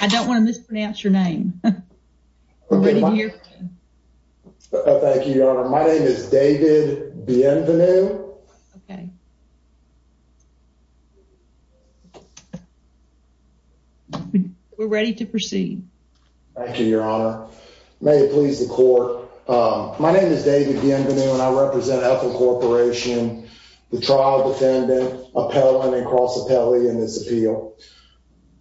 I don't want to mispronounce your name. Thank you, your honor. My name is David Bienvenu. We're ready to proceed. Thank you, your honor. May it please the court. My name is David Bienvenu and I represent Ethel Corporation, the trial defendant appellant and cross appellee in this case.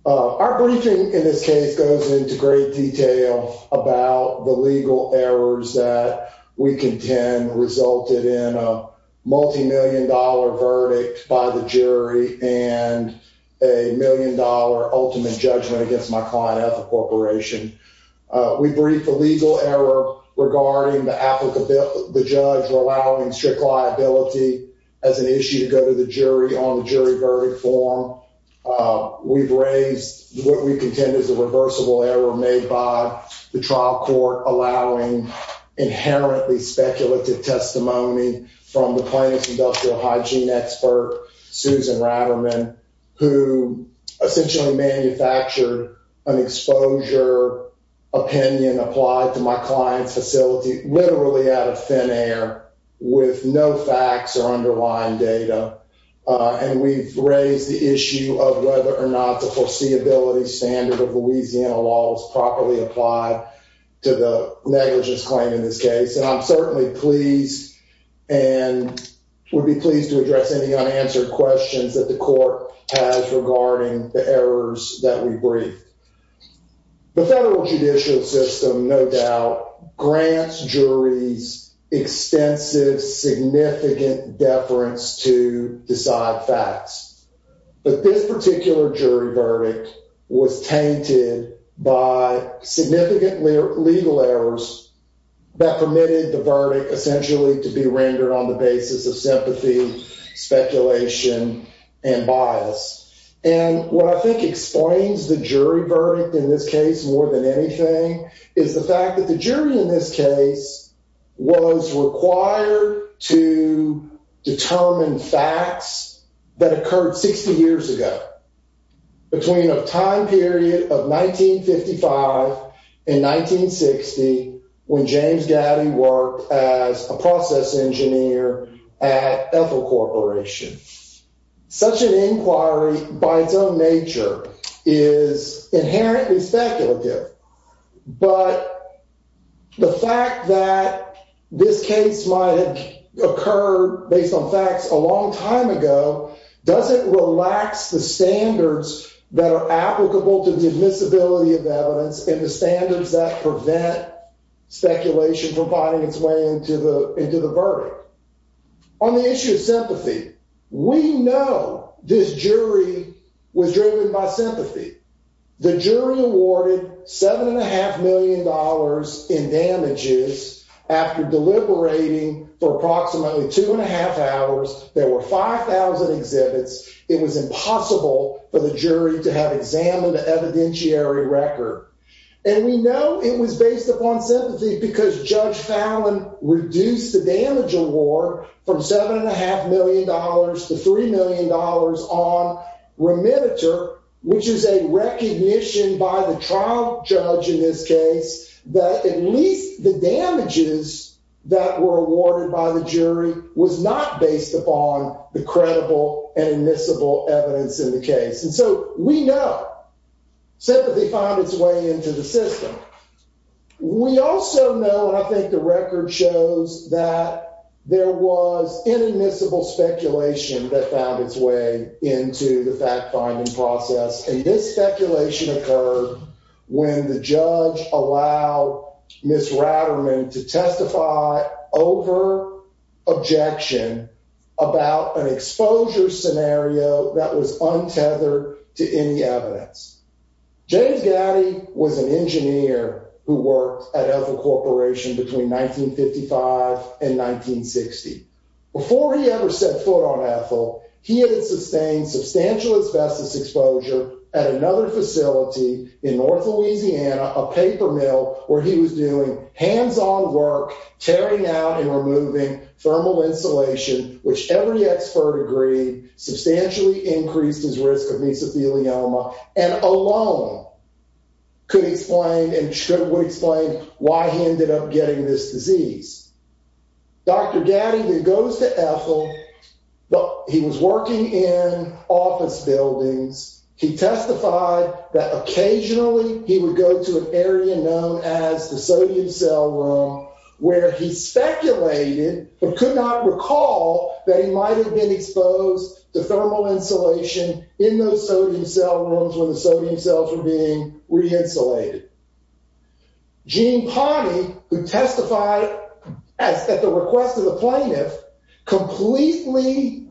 Our briefing in this case goes into great detail about the legal errors that we contend resulted in a multi-million dollar verdict by the jury and a million dollar ultimate judgment against my client, Ethel Corporation. We briefed the legal error regarding the applicant, the judge allowing strict liability as an issue to go to the jury on the jury verdict form. We've raised what we contend is a reversible error made by the trial court allowing inherently speculative testimony from the plaintiff's industrial hygiene expert, Susan Ratterman, who essentially manufactured an exposure opinion applied to my client's facility literally out of thin air with no facts or underlying data and we've raised the issue of whether or not the foreseeability standard of Louisiana law is properly applied to the negligence claim in this case and I'm certainly pleased and would be pleased to address any unanswered questions that the court has regarding the errors that we briefed. The federal judicial system no doubt grants juries extensive significant deference to decide facts but this particular jury verdict was tainted by significant legal errors that permitted the verdict essentially to be rendered on the basis of sympathy, speculation, and bias and what I think explains the jury verdict in this case more than anything is the fact that the jury in this case was required to determine facts that occurred 60 years ago between a time period of 1955 and 1960 when James Gaddy worked as a process engineer at Ethel Corporation. Such an inquiry by its own nature is inherently speculative but the fact that this case might have occurred based on facts a long time ago doesn't relax the standards that are applicable to the admissibility of evidence and the standards that prevent speculation from finding its way into the into the verdict. On the issue of sympathy we know this jury was driven by sympathy. The jury awarded seven and a half million dollars in damages after deliberating for approximately two and a half hours there were 5,000 exhibits it was impossible for the jury to have examined the evidentiary record and we know it was based upon sympathy because Judge Fallon reduced the damage award from seven and a half million dollars to three million dollars on remittiture which is a recognition by the trial judge in this case that at least the damages that were awarded by the jury was not based upon the credible and admissible evidence in the case and so we know sympathy found its way into the system. We also know and I think the record shows that there was inadmissible speculation that found its way into the fact-finding process and this speculation occurred when the judge allowed Ms. Ratterman to testify over objection about an exposure scenario that was untethered to any evidence. James Gatti was an engineer who worked at Ethel Corporation between 1955 and 1960. Before he ever set foot on Ethel he had sustained substantial asbestos exposure at another facility in north Louisiana a paper mill where he was doing hands-on work tearing out and removing thermal insulation which every expert agreed substantially increased his risk of mesothelioma and alone could explain and should explain why he ended up getting this disease. Dr. Gatti then goes to Ethel but he was working in office buildings he testified that occasionally he would go to an area known as the sodium cell room where he speculated but could not recall that he might have been exposed to thermal insulation in those sodium cell rooms when at the request of the plaintiff completely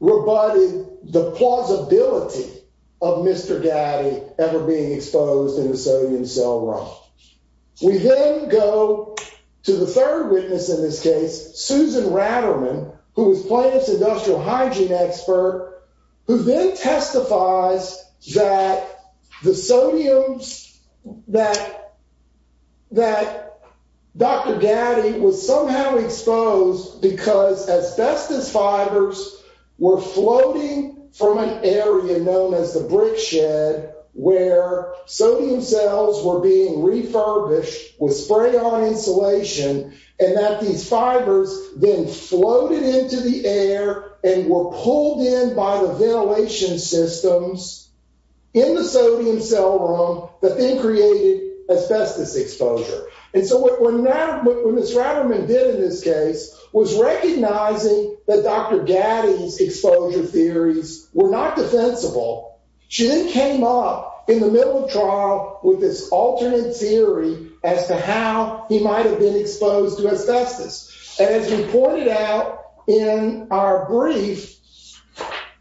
rebutted the plausibility of Mr. Gatti ever being exposed in a sodium cell room. We then go to the third witness in this case Susan Ratterman who was plaintiff's industrial hygiene expert who then testifies that the sodiums that Dr. Gatti was somehow exposed because asbestos fibers were floating from an area known as the brick shed where sodium cells were being refurbished with spray-on insulation and that these fibers then floated into the air and were pulled in by the ventilation systems in the sodium cell room that then created asbestos exposure and so what Ms. Ratterman did in this case was recognizing that Dr. Gatti's exposure theories were not defensible. She then came up in the middle of trial with this alternate theory as to how he might have been exposed to asbestos and as we pointed out in our brief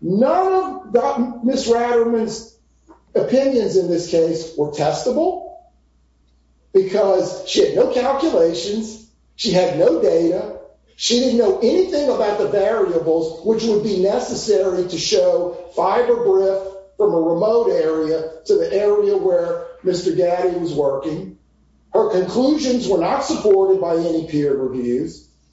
none of Ms. Ratterman's opinions in this case were testable because she had no calculations, she had no data, she didn't know anything about the variables which would be necessary to show fiber grip from a remote area to the area where Mr. Gatti was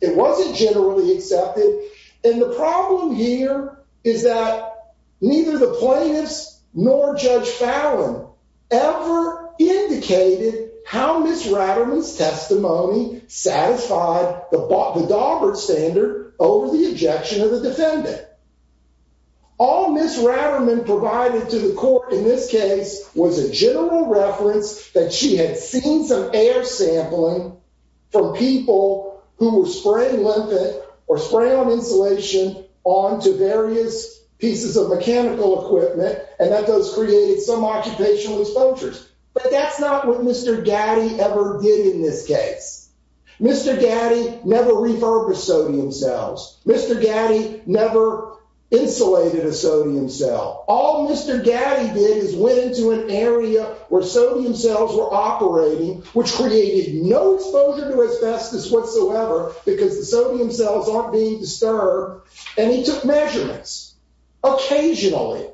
it wasn't generally accepted and the problem here is that neither the plaintiffs nor Judge Fallon ever indicated how Ms. Ratterman's testimony satisfied the Daubert standard over the objection of the defendant. All Ms. Ratterman provided to the court in this case was a general reference that she had seen some air sampling from people who were spraying lymphate or spraying on insulation onto various pieces of mechanical equipment and that those created some occupational exposures but that's not what Mr. Gatti ever did in this case. Mr. Gatti never refurbished sodium where sodium cells were operating which created no exposure to asbestos whatsoever because the sodium cells aren't being disturbed and he took measurements occasionally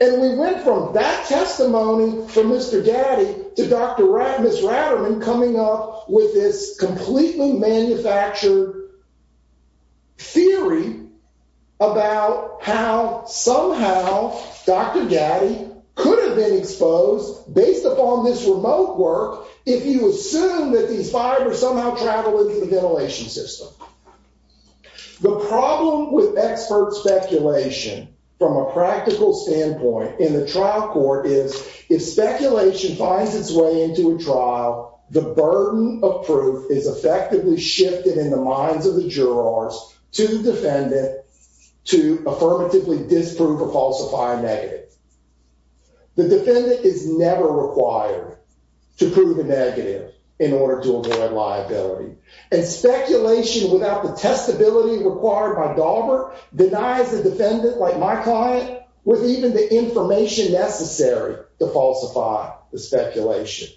and we went from that testimony from Mr. Gatti to Dr. Ratt, Ms. Ratterman coming up with this completely manufactured theory about how somehow Dr. Gatti could have been exposed based upon this remote work if you assume that these fibers somehow travel into the ventilation system. The problem with expert speculation from a practical standpoint in the trial court is if speculation finds its way into a trial the burden of proof is effectively shifted in the minds of the jurors to the defendant to affirmatively disprove or falsify a negative. The defendant is never required to prove a negative in order to avoid liability and speculation without the testability required by Daubert denies a defendant like my client with even the falsify the speculation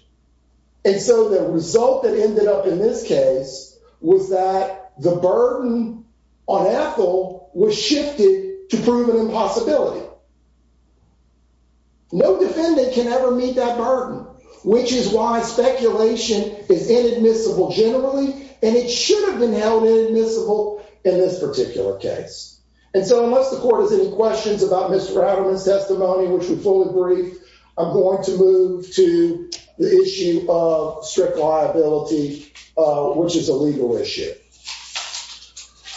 and so the result that ended up in this case was that the burden on Ethel was shifted to prove an impossibility. No defendant can ever meet that burden which is why speculation is inadmissible generally and it should have been held inadmissible in this particular case and so unless the court has questions about Mr. Ratterman's testimony which we fully agree I'm going to move to the issue of strict liability which is a legal issue.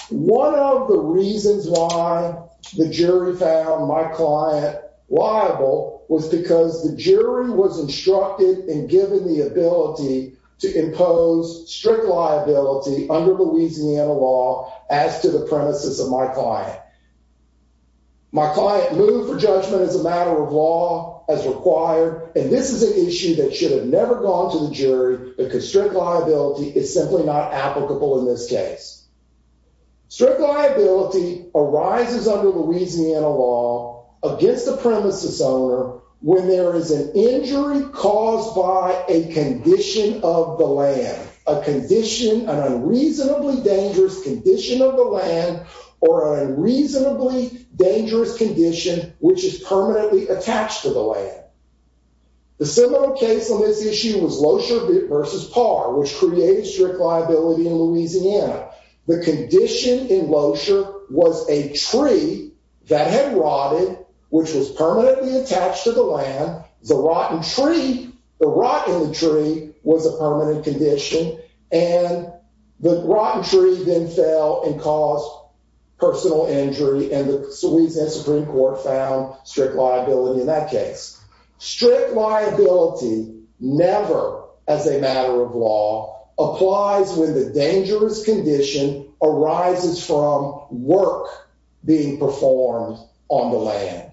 One of the reasons why the jury found my client liable was because the jury was instructed and given the ability to impose strict liability under Louisiana law as to the premises of my client. My client moved for judgment as a matter of law as required and this is an issue that should have never gone to the jury because strict liability is simply not applicable in this case. Strict liability arises under Louisiana law against the premises owner when there is an injury caused by a condition of the land, a condition, an unreasonably dangerous condition of the land or an unreasonably dangerous condition which is permanently attached to the land. The similar case on this issue was Loescher versus Parr which created strict liability in Louisiana. The condition in Loescher was a tree that had rotted which was permanently attached to the land. The rotten tree, the rot in the tree was a permanent condition and the rotten tree then fell and caused personal injury and the Louisiana Supreme Court found strict liability in that case. Strict liability never as a matter of law applies when the dangerous condition arises from work being performed on the land.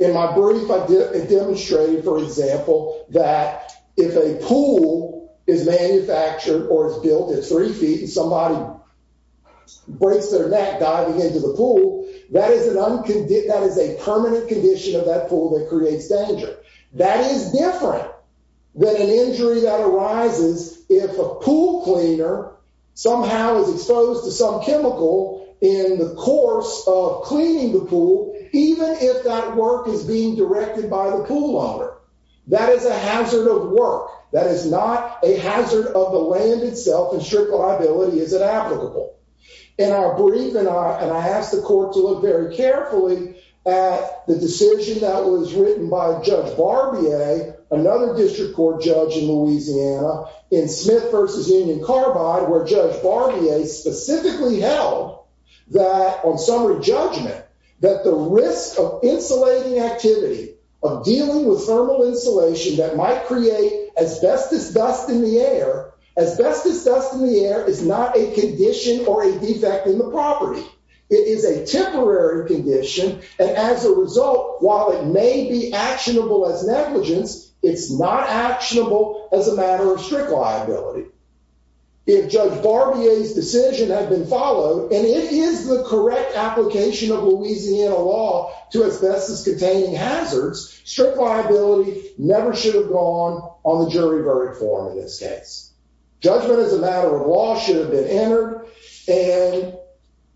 In my brief I demonstrated for example that if a pool is manufactured or is built at three feet and somebody breaks their neck diving into the pool that is a permanent condition of that pool that creates danger. That is different than an injury that arises if a pool cleaner somehow is exposed to some chemical in the course of cleaning the pool even if that work is being directed by the pool owner. That is a hazard of work. That is not a hazard of the land itself and strict liability is inapplicable. In our brief and I asked the court to look very carefully at the decision that was written by Judge Barbier, another district court judge in Louisiana in Smith versus Union Carbide where Judge Barbier specifically held that on summary judgment that the risk of insulating activity of dealing with thermal insulation that might create asbestos dust in the air, asbestos dust in the air is not a condition or a defect in the property. It is a temporary condition and as a result while it may be actionable as negligence it's not actionable as a matter of strict liability. If Judge Barbier's decision had been followed and it is the correct application of Louisiana law to asbestos containing hazards, strict liability never should have gone on the jury verdict form in this case. Judgment as a matter of law should have been entered and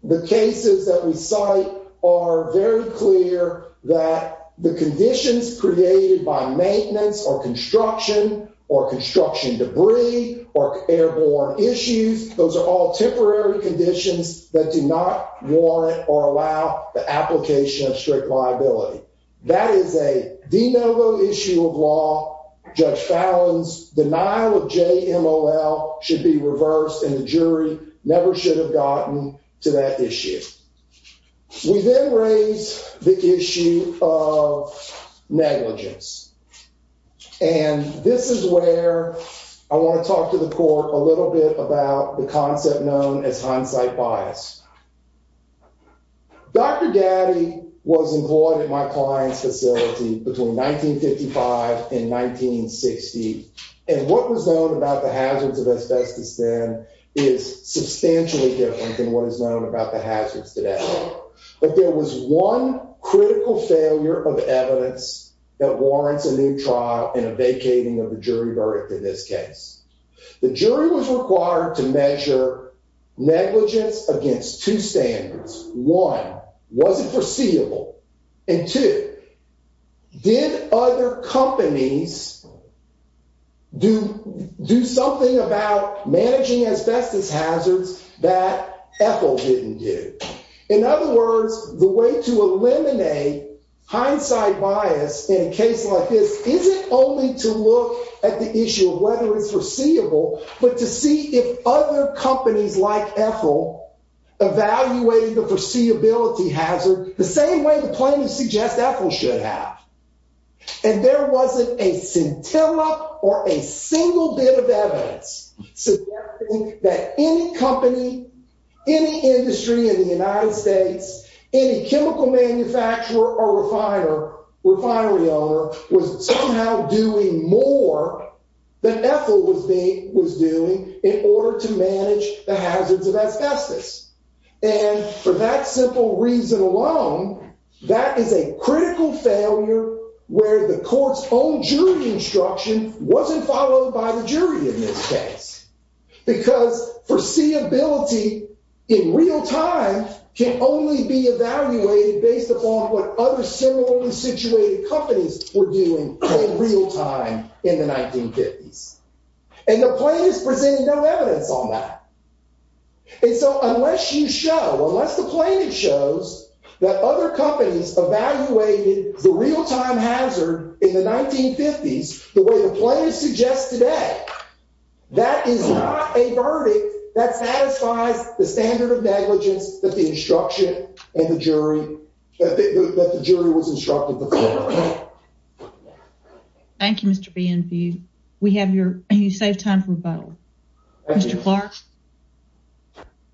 the cases that we cite are very clear that the conditions created by maintenance or construction or construction debris or airborne issues, those are all temporary conditions that do not warrant or allow the application of strict liability. That is a de novo issue of law. Judge Fallon's denial of JMOL should be reversed and the jury never should have gotten to that issue. We then raise the issue of negligence and this is where I want to talk to the court a little bit about the concept known as hindsight bias. Dr. Gaddy was employed at my client's facility between 1955 and 1960 and what was known about the hazards of asbestos then is substantially different than what is known about the hazards today. But there was one critical failure of evidence that warrants a new trial and a vacating of the jury verdict in this case. The jury was required to measure negligence against two standards. One, was it foreseeable and two, did other companies do something about managing asbestos hazards that Ethel didn't do? In other words, the way to eliminate hindsight bias in a case like this isn't only to look at the issue of whether it's foreseeable but to see if other companies like suggest Ethel should have. And there wasn't a scintilla or a single bit of evidence suggesting that any company, any industry in the United States, any chemical manufacturer or refinery owner was somehow doing more than Ethel was doing in order to manage the hazards of asbestos. And for that simple reason alone, that is a critical failure where the court's own jury instruction wasn't followed by the jury in this case. Because foreseeability in real time can only be evaluated based upon what other similarly situated companies were doing in real time in the And so unless you show, unless the plaintiff shows that other companies evaluated the real time hazard in the 1950s the way the plaintiff suggests today, that is not a verdict that satisfies the standard of negligence that the instruction and the jury, that the jury was instructed to follow. Thank you Mr. Behan. We have your, you saved time for a vote. Mr. Clark.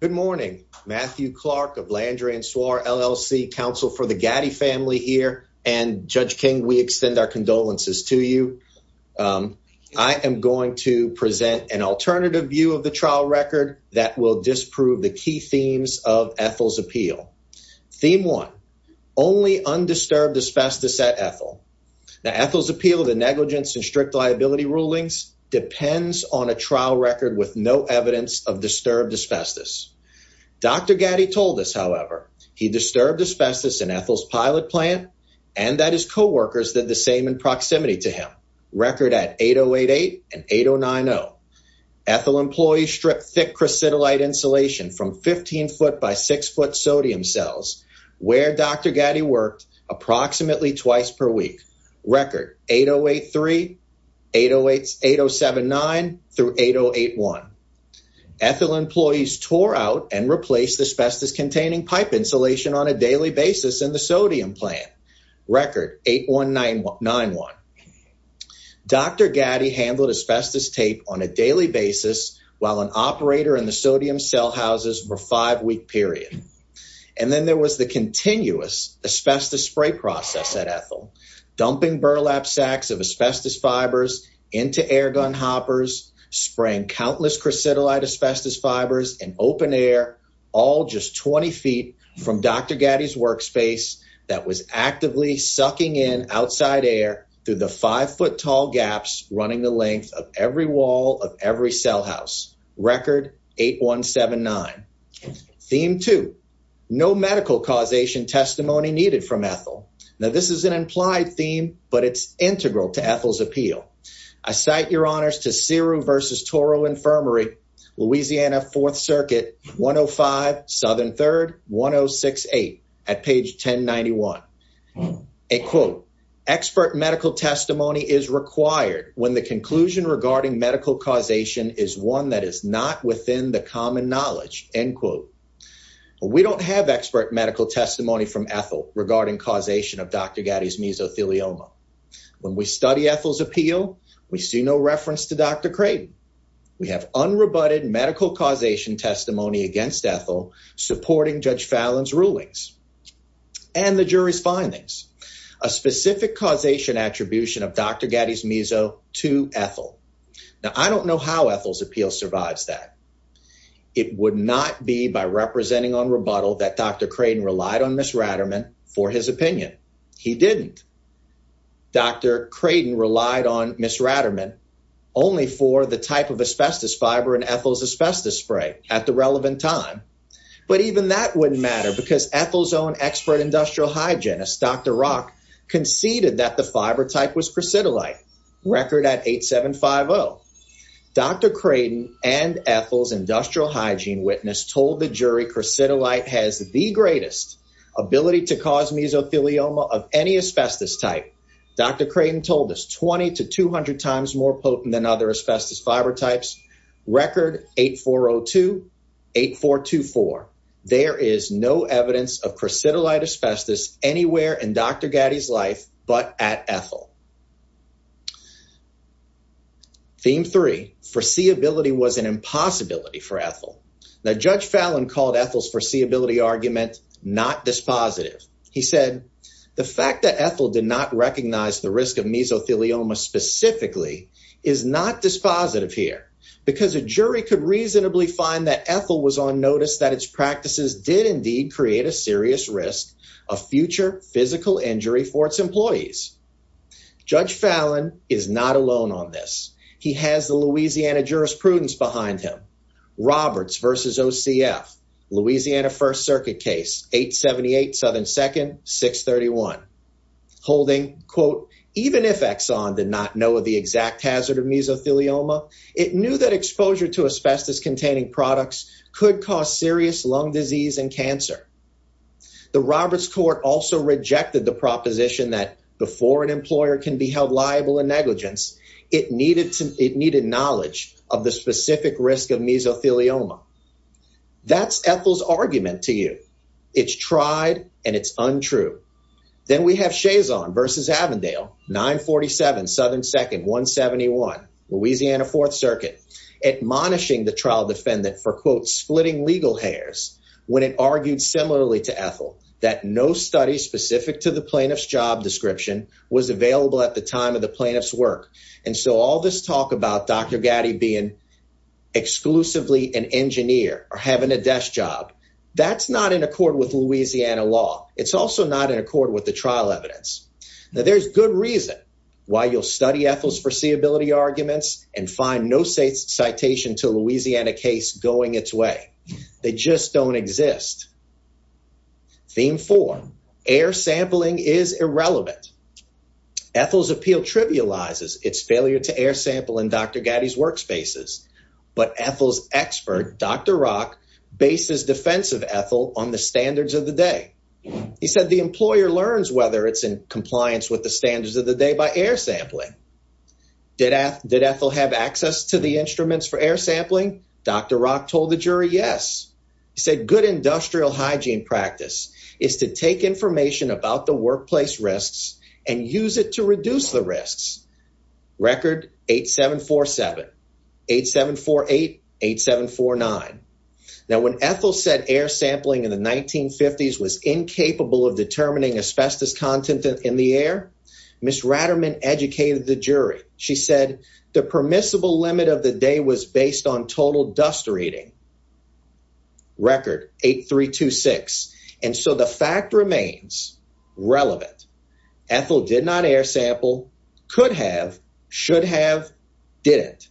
Good morning. Matthew Clark of Landry and Soir LLC, counsel for the Gatti family here. And Judge King, we extend our condolences to you. I am going to present an alternative view of the trial record that will disprove the key themes of Ethel's appeal. Theme one, only undisturbed asbestos at Ethel. Now Ethel's appeal to negligence and strict liability rulings depends on a trial record with no evidence of disturbed asbestos. Dr. Gatti told us, however, he disturbed asbestos in Ethel's pilot plant and that his co-workers did the same in proximity to him. Record at 8088 and 8090. Ethel employees stripped thick crucidolite insulation from 15 foot by 6 foot sodium cells where Dr. Gatti worked approximately twice per week. Record 8083, 8079 through 8081. Ethel employees tore out and replaced asbestos containing pipe insulation on a daily basis in the sodium plant. Record 8191. Dr. Gatti handled asbestos tape on a daily basis while an operator in the sodium cell houses for five week period. And then there was the continuous asbestos spray process at Ethel, dumping burlap sacks of asbestos fibers into air gun hoppers, spraying countless crucidolite asbestos fibers in open air, all just 20 feet from Dr. Gatti's workspace that was actively sucking in outside air through the five foot tall gaps running the length of every wall of every cell house. Record 8179. Theme two, no medical causation testimony needed from Ethel. Now this is an implied theme, but it's integral to Ethel's appeal. I cite your honors to CIRU versus Toro Infirmary, Louisiana Fourth Circuit, 105 Southern 3rd, 1068 at page 1091. A quote, expert medical testimony is required when the conclusion regarding medical causation is one that is not within the common knowledge, end quote. We don't have expert medical testimony from Ethel regarding causation of Dr. Gatti's mesothelioma. When we study Ethel's appeal, we see no reference to Dr. Creighton. We have unrebutted medical causation testimony against Ethel supporting Judge Fallon's rulings and the jury's findings. A specific causation attribution of Dr. Gatti's meso to Ethel. Now I don't know how Ethel's appeal survives that. It would not be by representing on rebuttal that Dr. Creighton relied on Ms. Ratterman for his opinion. He didn't. Dr. Creighton relied on Ms. Ratterman only for the type of asbestos fiber in Ethel's asbestos spray at the relevant time. But even that wouldn't matter because Ethel's own expert industrial hygienist, Dr. Rock, conceded that the fiber type was cricidolite, record at 8750. Dr. Creighton and Ethel's ability to cause mesothelioma of any asbestos type, Dr. Creighton told us 20 to 200 times more potent than other asbestos fiber types, record 8402, 8424. There is no evidence of cricidolite asbestos anywhere in Dr. Gatti's life but at Ethel. Theme three, foreseeability was an impossibility for Ethel. Now Judge Fallon called Ethel's foreseeability argument not dispositive. He said, the fact that Ethel did not recognize the risk of mesothelioma specifically is not dispositive here because a jury could reasonably find that Ethel was on notice that its practices did indeed create a serious risk of future physical injury for its employees. Judge Fallon is not alone on this. He has the Louisiana jurisprudence behind him. Roberts versus OCF, Louisiana First Circuit case, 878 Southern 2nd, 631. Holding, quote, even if Exxon did not know of the exact hazard of mesothelioma, it knew that exposure to asbestos containing products could cause serious lung disease and cancer. The Roberts court also rejected the proposition that before an employer can be held liable in negligence, it needed knowledge of the specific risk of mesothelioma. That's Ethel's argument to you. It's tried and it's untrue. Then we have Chazon versus Avondale, 947 Southern 2nd, 171, Louisiana Fourth Circuit, admonishing the trial defendant for, quote, splitting legal hairs when it argued similarly to Ethel that no study specific to the plaintiff's job description was available at the time of the plaintiff's work. And so all this talk about Dr. Gatti being exclusively an engineer or having a desk job, that's not in accord with Louisiana law. It's also not in accord with the trial evidence. Now, there's good reason why you'll study Ethel's foreseeability arguments and find no citation to Louisiana case going its way. They just don't exist. Theme four, air sampling is irrelevant. Ethel's appeal trivializes its failure to air sample in Dr. Gatti's workspaces. But Ethel's expert, Dr. Rock, bases defense of Ethel on the standards of the day. He said the employer learns whether it's in compliance with the standards of the day by air sampling. Did Ethel have access to the instruments for air sampling? Dr. Rock told the practice is to take information about the workplace risks and use it to reduce the risks. Record 8747, 8748, 8749. Now, when Ethel said air sampling in the 1950s was incapable of determining asbestos content in the air, Ms. Ratterman educated the jury. She said the permissible limit of the day was based on total dust reading. Record 8326. And so the fact remains relevant. Ethel did not air sample, could have, should have, didn't.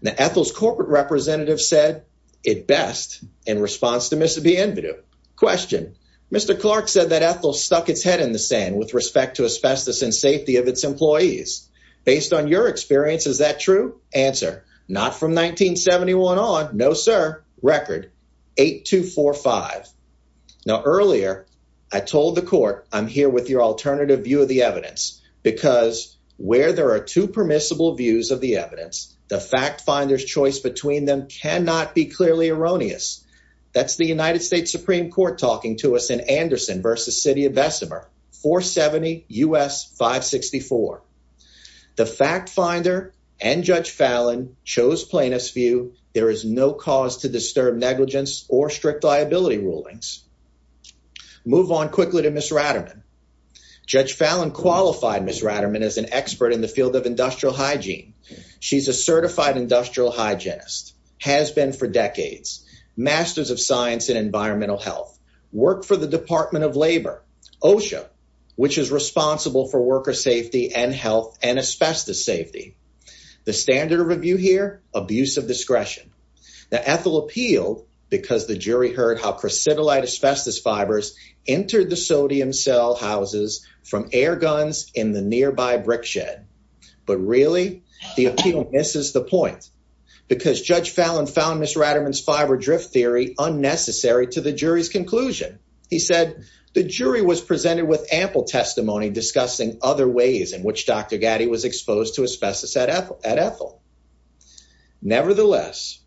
Now, Ethel's corporate representative said it best in response to Ms. Bienvenu. Question, Mr. Clark said that Ethel stuck its head in the sand with respect to asbestos and safety of its employees. Based on your experience, is that true? Answer, not from 1971 on. No, sir. Record 8245. Now, earlier I told the court, I'm here with your alternative view of the evidence because where there are two permissible views of the evidence, the fact finder's choice between them cannot be clearly erroneous. That's the United States Supreme Court talking to us in 564. The fact finder and Judge Fallon chose plaintiff's view. There is no cause to disturb negligence or strict liability rulings. Move on quickly to Ms. Ratterman. Judge Fallon qualified Ms. Ratterman as an expert in the field of industrial hygiene. She's a certified industrial hygienist, has been for decades, masters of science in environmental health, worked for the Department of Labor, OSHA, which is responsible for worker safety and health and asbestos safety. The standard of review here, abuse of discretion. Now, Ethel appealed because the jury heard how crecidilite asbestos fibers entered the sodium cell houses from air guns in the nearby brick shed. But really, the appeal misses the point because Judge Fallon found Ms. Ratterman's fiber drift theory unnecessary to the jury's conclusion. He said the jury was presented with ample testimony discussing other ways in which Dr. Gatti was exposed to asbestos at Ethel. Nevertheless,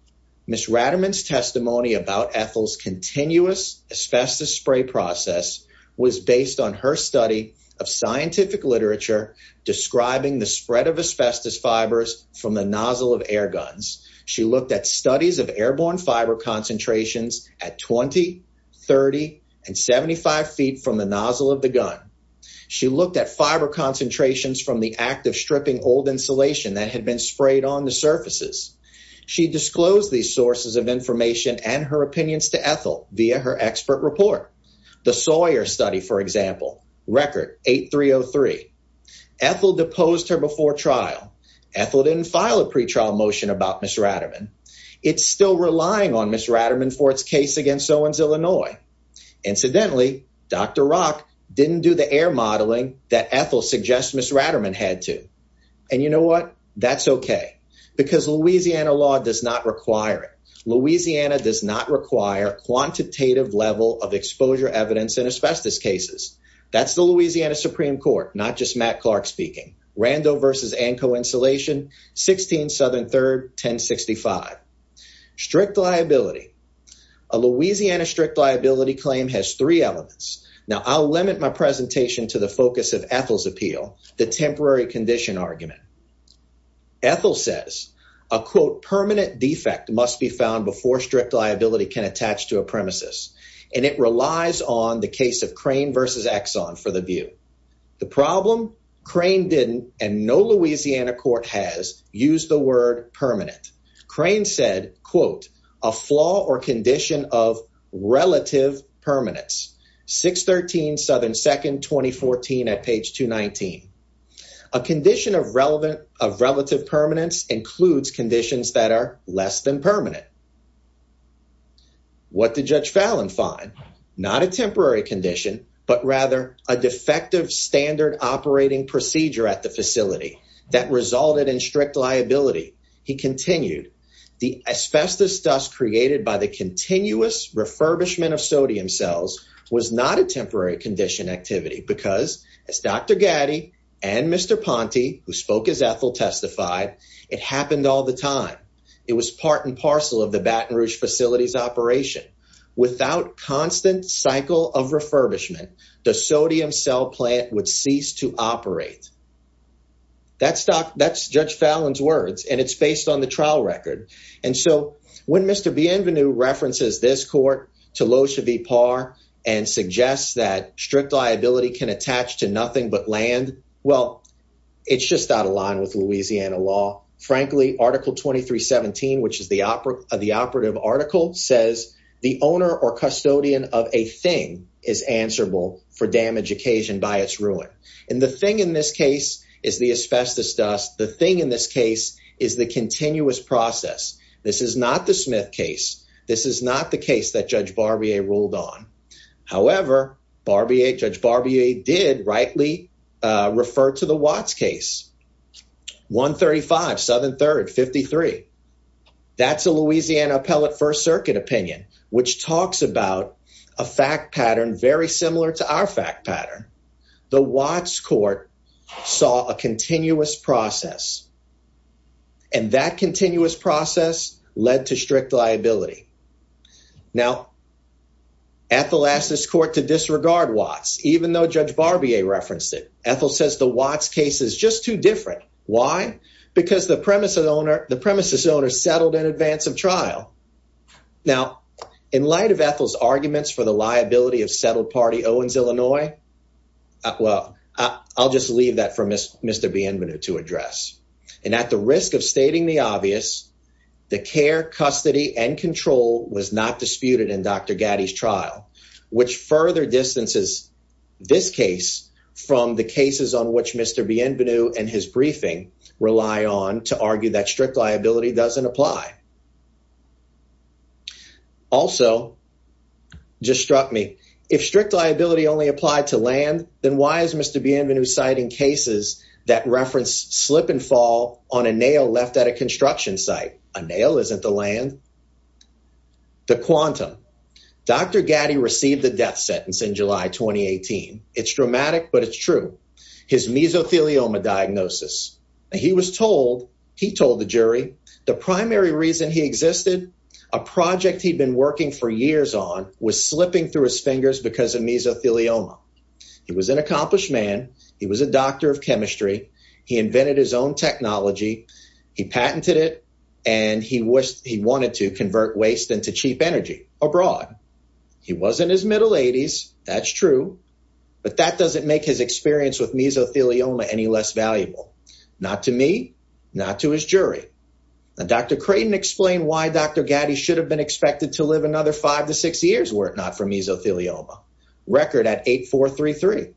Ms. Ratterman's testimony about Ethel's continuous asbestos spray process was based on her study of scientific literature describing the spread of asbestos fibers from the nozzle of air guns. She looked at studies of airborne fiber concentrations at 20, 30, and 75 feet from the nozzle of the gun. She looked at fiber concentrations from the act of stripping old insulation that had been sprayed on the surfaces. She disclosed these sources of information and her opinions to Ethel via her expert report. The Sawyer study, for example, record 8303. Ethel deposed her before trial. Ethel didn't file a pretrial motion about Ms. Ratterman. It's still relying on Ms. Ratterman for its case against Owens, Illinois. Incidentally, Dr. Rock didn't do the air modeling that Ethel suggests Ms. Ratterman had to. And you know what? That's okay because Louisiana law does not require it. Louisiana does not require a quantitative level of exposure evidence in asbestos cases. That's the Louisiana Supreme Court, not just Matt Clark speaking. Rando versus Annco insulation, 16 Southern 3rd, 1065. Strict liability. A Louisiana strict liability claim has three elements. Now, I'll limit my presentation to the focus of Ethel's appeal, the temporary condition argument. Ethel says a, quote, permanent defect must be found before strict liability can attach to a problem. Crane didn't, and no Louisiana court has used the word permanent. Crane said, quote, a flaw or condition of relative permanence, 613 Southern 2nd, 2014 at page 219. A condition of relative permanence includes conditions that are less than permanent. What did Judge Fallon find? Not a temporary condition, but rather a defective standard operating procedure at the facility that resulted in strict liability. He continued, the asbestos dust created by the continuous refurbishment of sodium cells was not a temporary condition activity because as Dr. Gatti and Mr. Ponte, who spoke as Ethel testified, it happened all the time. It was part and parcel of the Baton Rouge facility's operation. Without constant cycle of refurbishment, the sodium cell plant would cease to operate. That's Dr. That's Judge Fallon's words, and it's based on the trial record. And so when Mr. Bienvenu references this court to low should be par and suggests that strict liability can attach to nothing but land, well, it's just out of line with Louisiana law. Frankly, Article 2317, which is the operative article, says the owner or custodian of a thing is answerable for damage occasioned by its ruin. And the thing in this case is the asbestos dust. The thing in this case is the continuous process. This is not the Smith case. This is not the case that Judge Barbier ruled on. However, Barbier, Judge Barbier did rightly refer to the Watts case. 135 Southern Third 53. That's a Louisiana appellate First Circuit opinion, which talks about a fact pattern very similar to our fact pattern. The Watts court saw a continuous process. And that continuous process led to strict liability. Now, at the last, this court to disregard Watts, even though Judge Barbier referenced it. Ethel says the Watts case is just too different. Why? Because the premise of the owner, the premises owner settled in advance of trial. Now, in light of Ethel's arguments for the liability of settled party Owens, Illinois. Well, I'll just leave that for Mr. Bienvenu to address. And at the risk of stating the obvious, the care, custody and control was not disputed in Dr. Gaddy's trial, which further distances this case from the cases on which Mr. Bienvenu and his briefing rely on to argue that strict liability doesn't apply. Also, just struck me. If strict liability only applied to land, then why is Mr. Bienvenu citing cases that reference slip and fall on a nail left at a construction site? A nail isn't the land. The quantum. Dr. Gaddy received the death sentence in July 2018. It's dramatic, but it's true. His mesothelioma diagnosis. He was told, he told the jury, the primary reason he existed, a project he'd been working for years on was slipping through his fingers because of was a doctor of chemistry. He invented his own technology. He patented it and he wished he wanted to convert waste into cheap energy abroad. He was in his middle eighties. That's true. But that doesn't make his experience with mesothelioma any less valuable. Not to me, not to his jury. Now, Dr. Creighton explained why Dr. Gaddy should have been expected to live another five to six years were it not for mesothelioma record at eight, four, three, three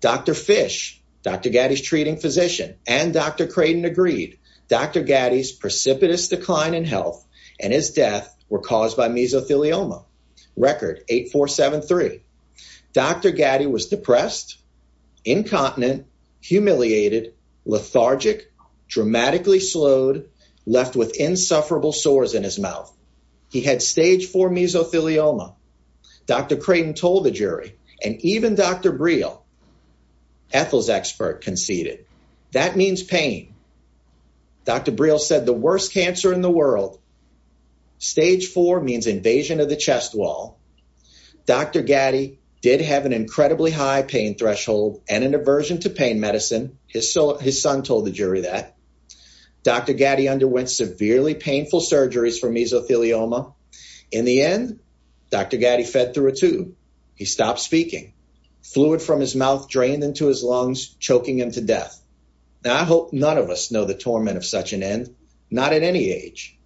Dr. Fish, Dr. Gaddy's treating physician and Dr. Creighton agreed. Dr. Gaddy's precipitous decline in health and his death were caused by mesothelioma record eight, four, seven, three. Dr. Gaddy was depressed, incontinent, humiliated, lethargic, dramatically slowed, left with mesothelioma. Dr. Creighton told the jury and even Dr. Briel, Ethel's expert conceded that means pain. Dr. Briel said the worst cancer in the world. Stage four means invasion of the chest wall. Dr. Gaddy did have an incredibly high pain threshold and an aversion to pain medicine. His son told the jury that Dr. Gaddy underwent severely painful surgeries for mesothelioma in the end, Dr. Gaddy fed through a tube. He stopped speaking. Fluid from his mouth drained into his lungs, choking him to death. Now, I hope none of us know the torment of such an end, not at any age.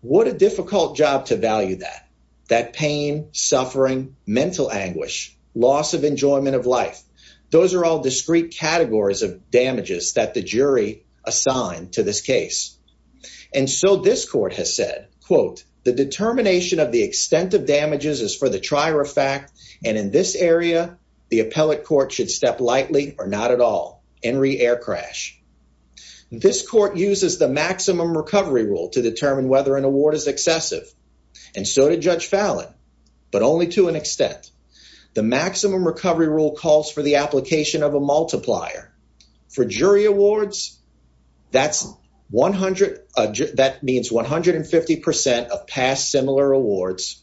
What a difficult job to value that, that pain, suffering, mental anguish, loss of enjoyment of life. Those are all discrete categories of damages that the jury assigned to this case. And so this court has said, quote, the determination of the extent of damages is for the trier of fact, and in this area, the appellate court should step lightly or not at all, Henry Air Crash. This court uses the maximum recovery rule to determine whether an award is excessive. And so did Judge Fallon, but only to an extent. The maximum recovery rule calls for the application of a multiplier. For jury awards, that means 150% of past similar awards.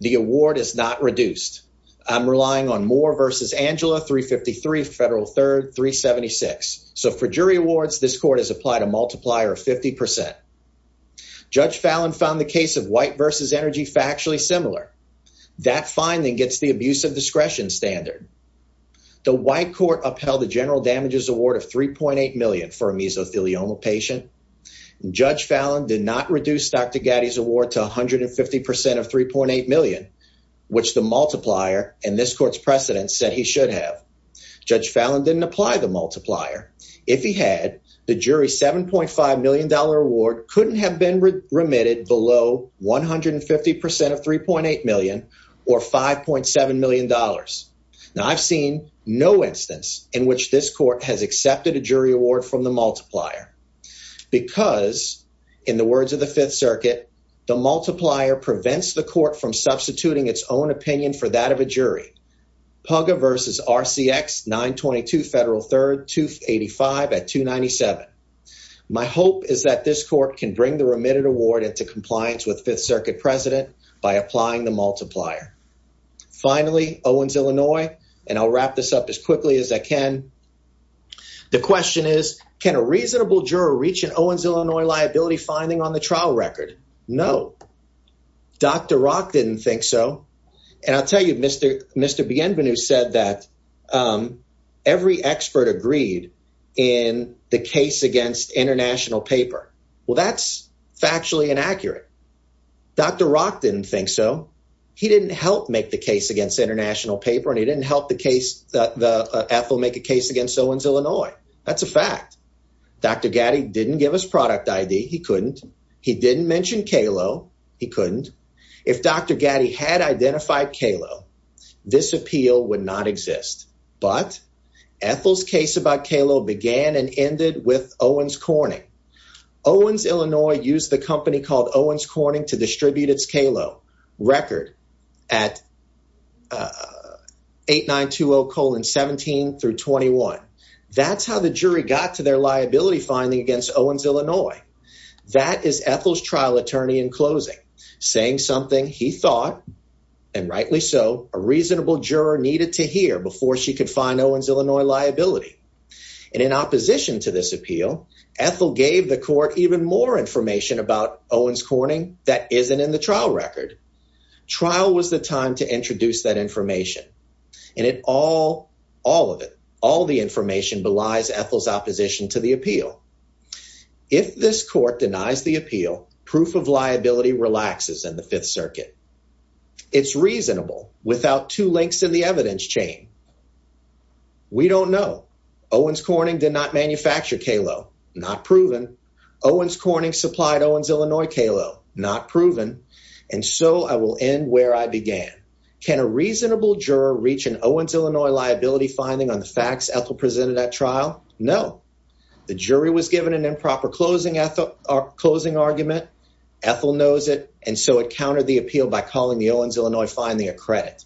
The award is not reduced. I'm relying on Moore v. Angela, 353, Federal Third, 376. So for jury awards, this court has applied a multiplier of 50%. Judge Fallon found the case of White v. Energy factually similar. That finding gets the abuse of discretion standard. The white court upheld the general damages award of 3.8 million for a mesothelioma patient. Judge Fallon did not reduce Dr. Gatti's award to 150% of 3.8 million, which the multiplier and this court's precedent said he should have. Judge Fallon didn't apply the multiplier. If he had, the jury $7.5 million award couldn't have been remitted below 150% of 3.8 million or $5.7 million. Now I've seen no instance in which this court has accepted a jury award from the multiplier because in the words of the Fifth Circuit, the multiplier prevents the court from at 297. My hope is that this court can bring the remitted award into compliance with Fifth Circuit president by applying the multiplier. Finally, Owens, Illinois, and I'll wrap this up as quickly as I can. The question is, can a reasonable juror reach an Owens, Illinois liability finding on the trial record? No. Dr. Rock didn't think so. And I'll tell you, Mr. Bienvenu said that every expert agreed in the case against international paper. Well, that's factually inaccurate. Dr. Rock didn't think so. He didn't help make the case against international paper, and he didn't help Ethel make a case against Owens, Illinois. That's a fact. Dr. Gatti didn't give us product ID. He couldn't. He didn't mention Kalo. He couldn't. If Dr. Gatti had identified Kalo, this appeal would not exist. But Ethel's case about Kalo began and ended with Owens, Corning. Owens, Illinois used the company called Owens Corning to distribute its Kalo record at 8920 colon 17 through 21. That's how the jury got to their liability finding against Owens, Illinois. That is Ethel's trial attorney in closing, saying something he thought, and rightly so, a reasonable juror needed to hear before she could find Owens, Illinois liability. And in opposition to this appeal, Ethel gave the court even more information about Owens, Corning that isn't in the trial record. Trial was the time to introduce that information, and it all, all of it, all the information belies Ethel's opposition to the appeal. If this court denies the appeal, proof of liability relaxes in the Fifth Circuit. It's reasonable without two links in the evidence chain. We don't know. Owens, Corning did not manufacture Kalo. Not proven. Owens, Corning supplied Owens, Illinois Kalo. Not proven. And so I will end where I began. Can a reasonable juror reach an Owens, Illinois liability finding on the facts Ethel presented at trial? No. The jury was given an improper closing argument. Ethel knows it, and so it countered the appeal by calling the Owens, Illinois finding a credit.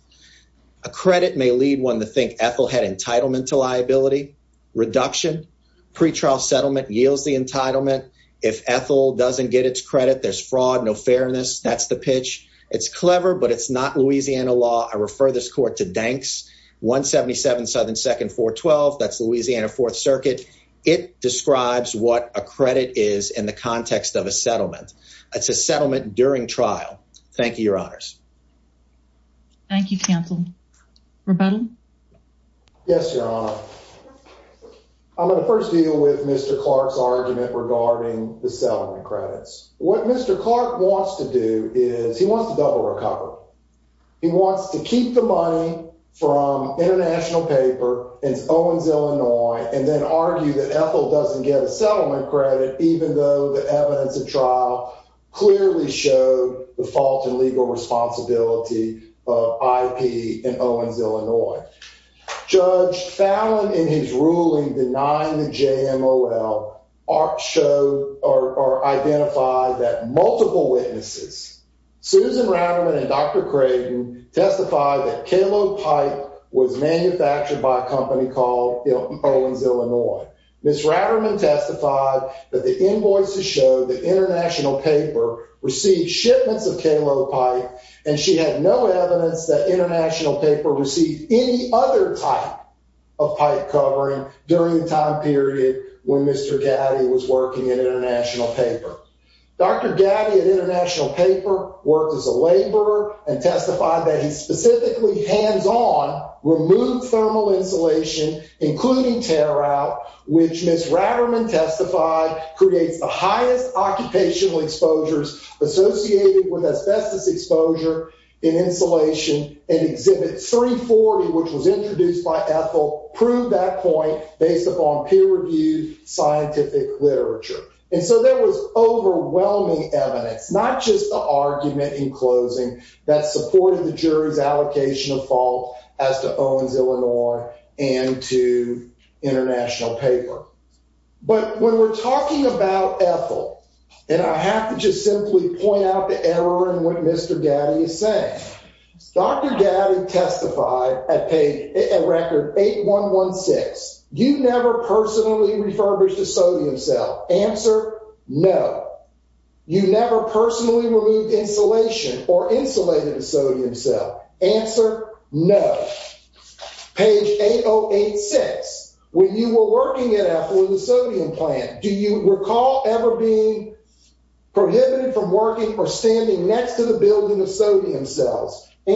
A credit may lead one to think Ethel had entitlement to liability. Reduction, pretrial settlement yields the entitlement. If Ethel doesn't get its credit, there's fraud, no fairness. That's the pitch. It's clever, but it's not Louisiana law. I refer this court to Danks 177 Southern 2nd 412. That's Louisiana Fourth Circuit. It describes what a credit is in the context of a settlement. It's a settlement during trial. Thank you, your honors. Thank you, counsel. Rebuttal? Yes, your honor. I'm going to first deal with Mr. Clark's argument regarding the settlement credits. What Mr. Clark wants to do is he wants to double recover. He wants to keep the money from international paper in Owens, Illinois, and then argue that Ethel doesn't get a settlement credit, even though the evidence of trial clearly showed the fault and legal responsibility of IP in Owens, Illinois. Judge Fallon, in his ruling, denying the JMOL, showed or identified that multiple witnesses, Susan Ratterman and Dr. Creighton, testified that K-Lo pipe was manufactured by a company called Owens, Illinois. Ms. Ratterman testified that the invoices showed that international paper received shipments of K-Lo pipe, and she had no evidence that international paper received any other type of pipe covering during the time period when Mr. Gaddy was working in international paper. Dr. Gaddy at international paper worked as a laborer and testified that he specifically, hands-on, removed thermal insulation, including tear-out, which Ms. Ratterman testified creates the highest occupational exposures associated with asbestos exposure in insulation in exhibit 340, which was introduced by Ethel, proved that point based upon peer-reviewed scientific literature. And so there was overwhelming evidence, not just the argument in closing, that supported the jury's allocation of fault as to Owens, Illinois and to international paper. But when we're talking about Ethel, and I have to just simply point out the error in what Mr. Gaddy is saying, Dr. Gaddy testified at record 8116, you never personally refurbished a sodium cell. Answer, no. You never personally removed insulation or insulated a sodium cell. Answer, no. Page 8086, when you were working at Ethel in the sodium plant, do you recall ever being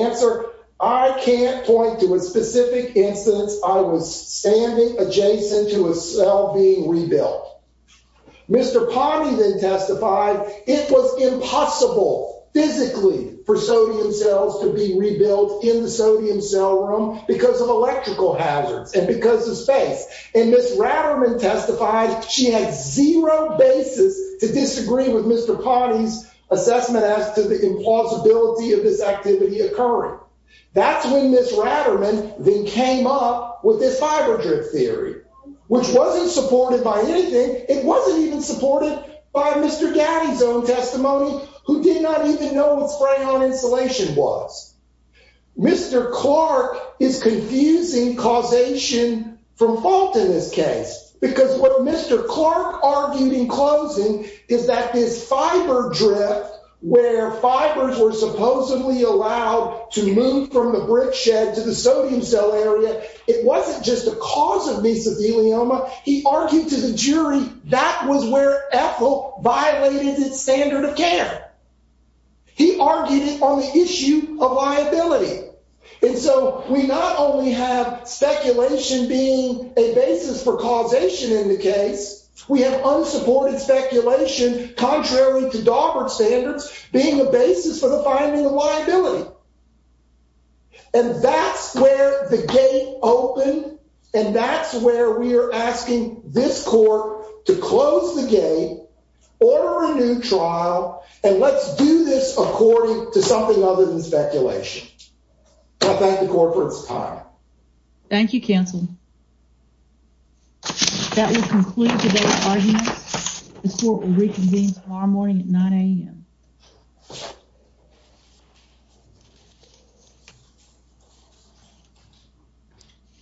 Answer, I can't point to a specific instance I was standing adjacent to a cell being rebuilt. Mr. Ponty then testified it was impossible physically for sodium cells to be rebuilt in the sodium cell room because of electrical hazards and because of space. And Ms. Ratterman testified she had zero basis to disagree with Mr. Ponty's assessment as to the implausibility of this activity occurring. That's when Ms. Ratterman then came up with this fiber drift theory, which wasn't supported by anything. It wasn't even supported by Mr. Gaddy's own testimony, who did not even know what spray-on insulation was. Mr. Clark is confusing causation from fault in this case, because what Mr. Clark argued in closing is that this fiber drift, where fibers were supposedly allowed to move from the brick shed to the sodium cell area, it wasn't just a cause of mesothelioma. He argued to the jury that was where Ethel violated its standard of care. He argued it on the issue of liability. And so we not only have speculation being a basis for causation in the case, we have unsupported speculation, contrary to Daubert standards, being the basis for the finding of liability. And that's where the gate opened, and that's where we are asking this court to close the gate, order a new trial, and let's do this according to something other than speculation. I thank the court for its time. Thank you, counsel. That will conclude today's arguments. The court will reconvene tomorrow morning at 9 a.m. Thank you.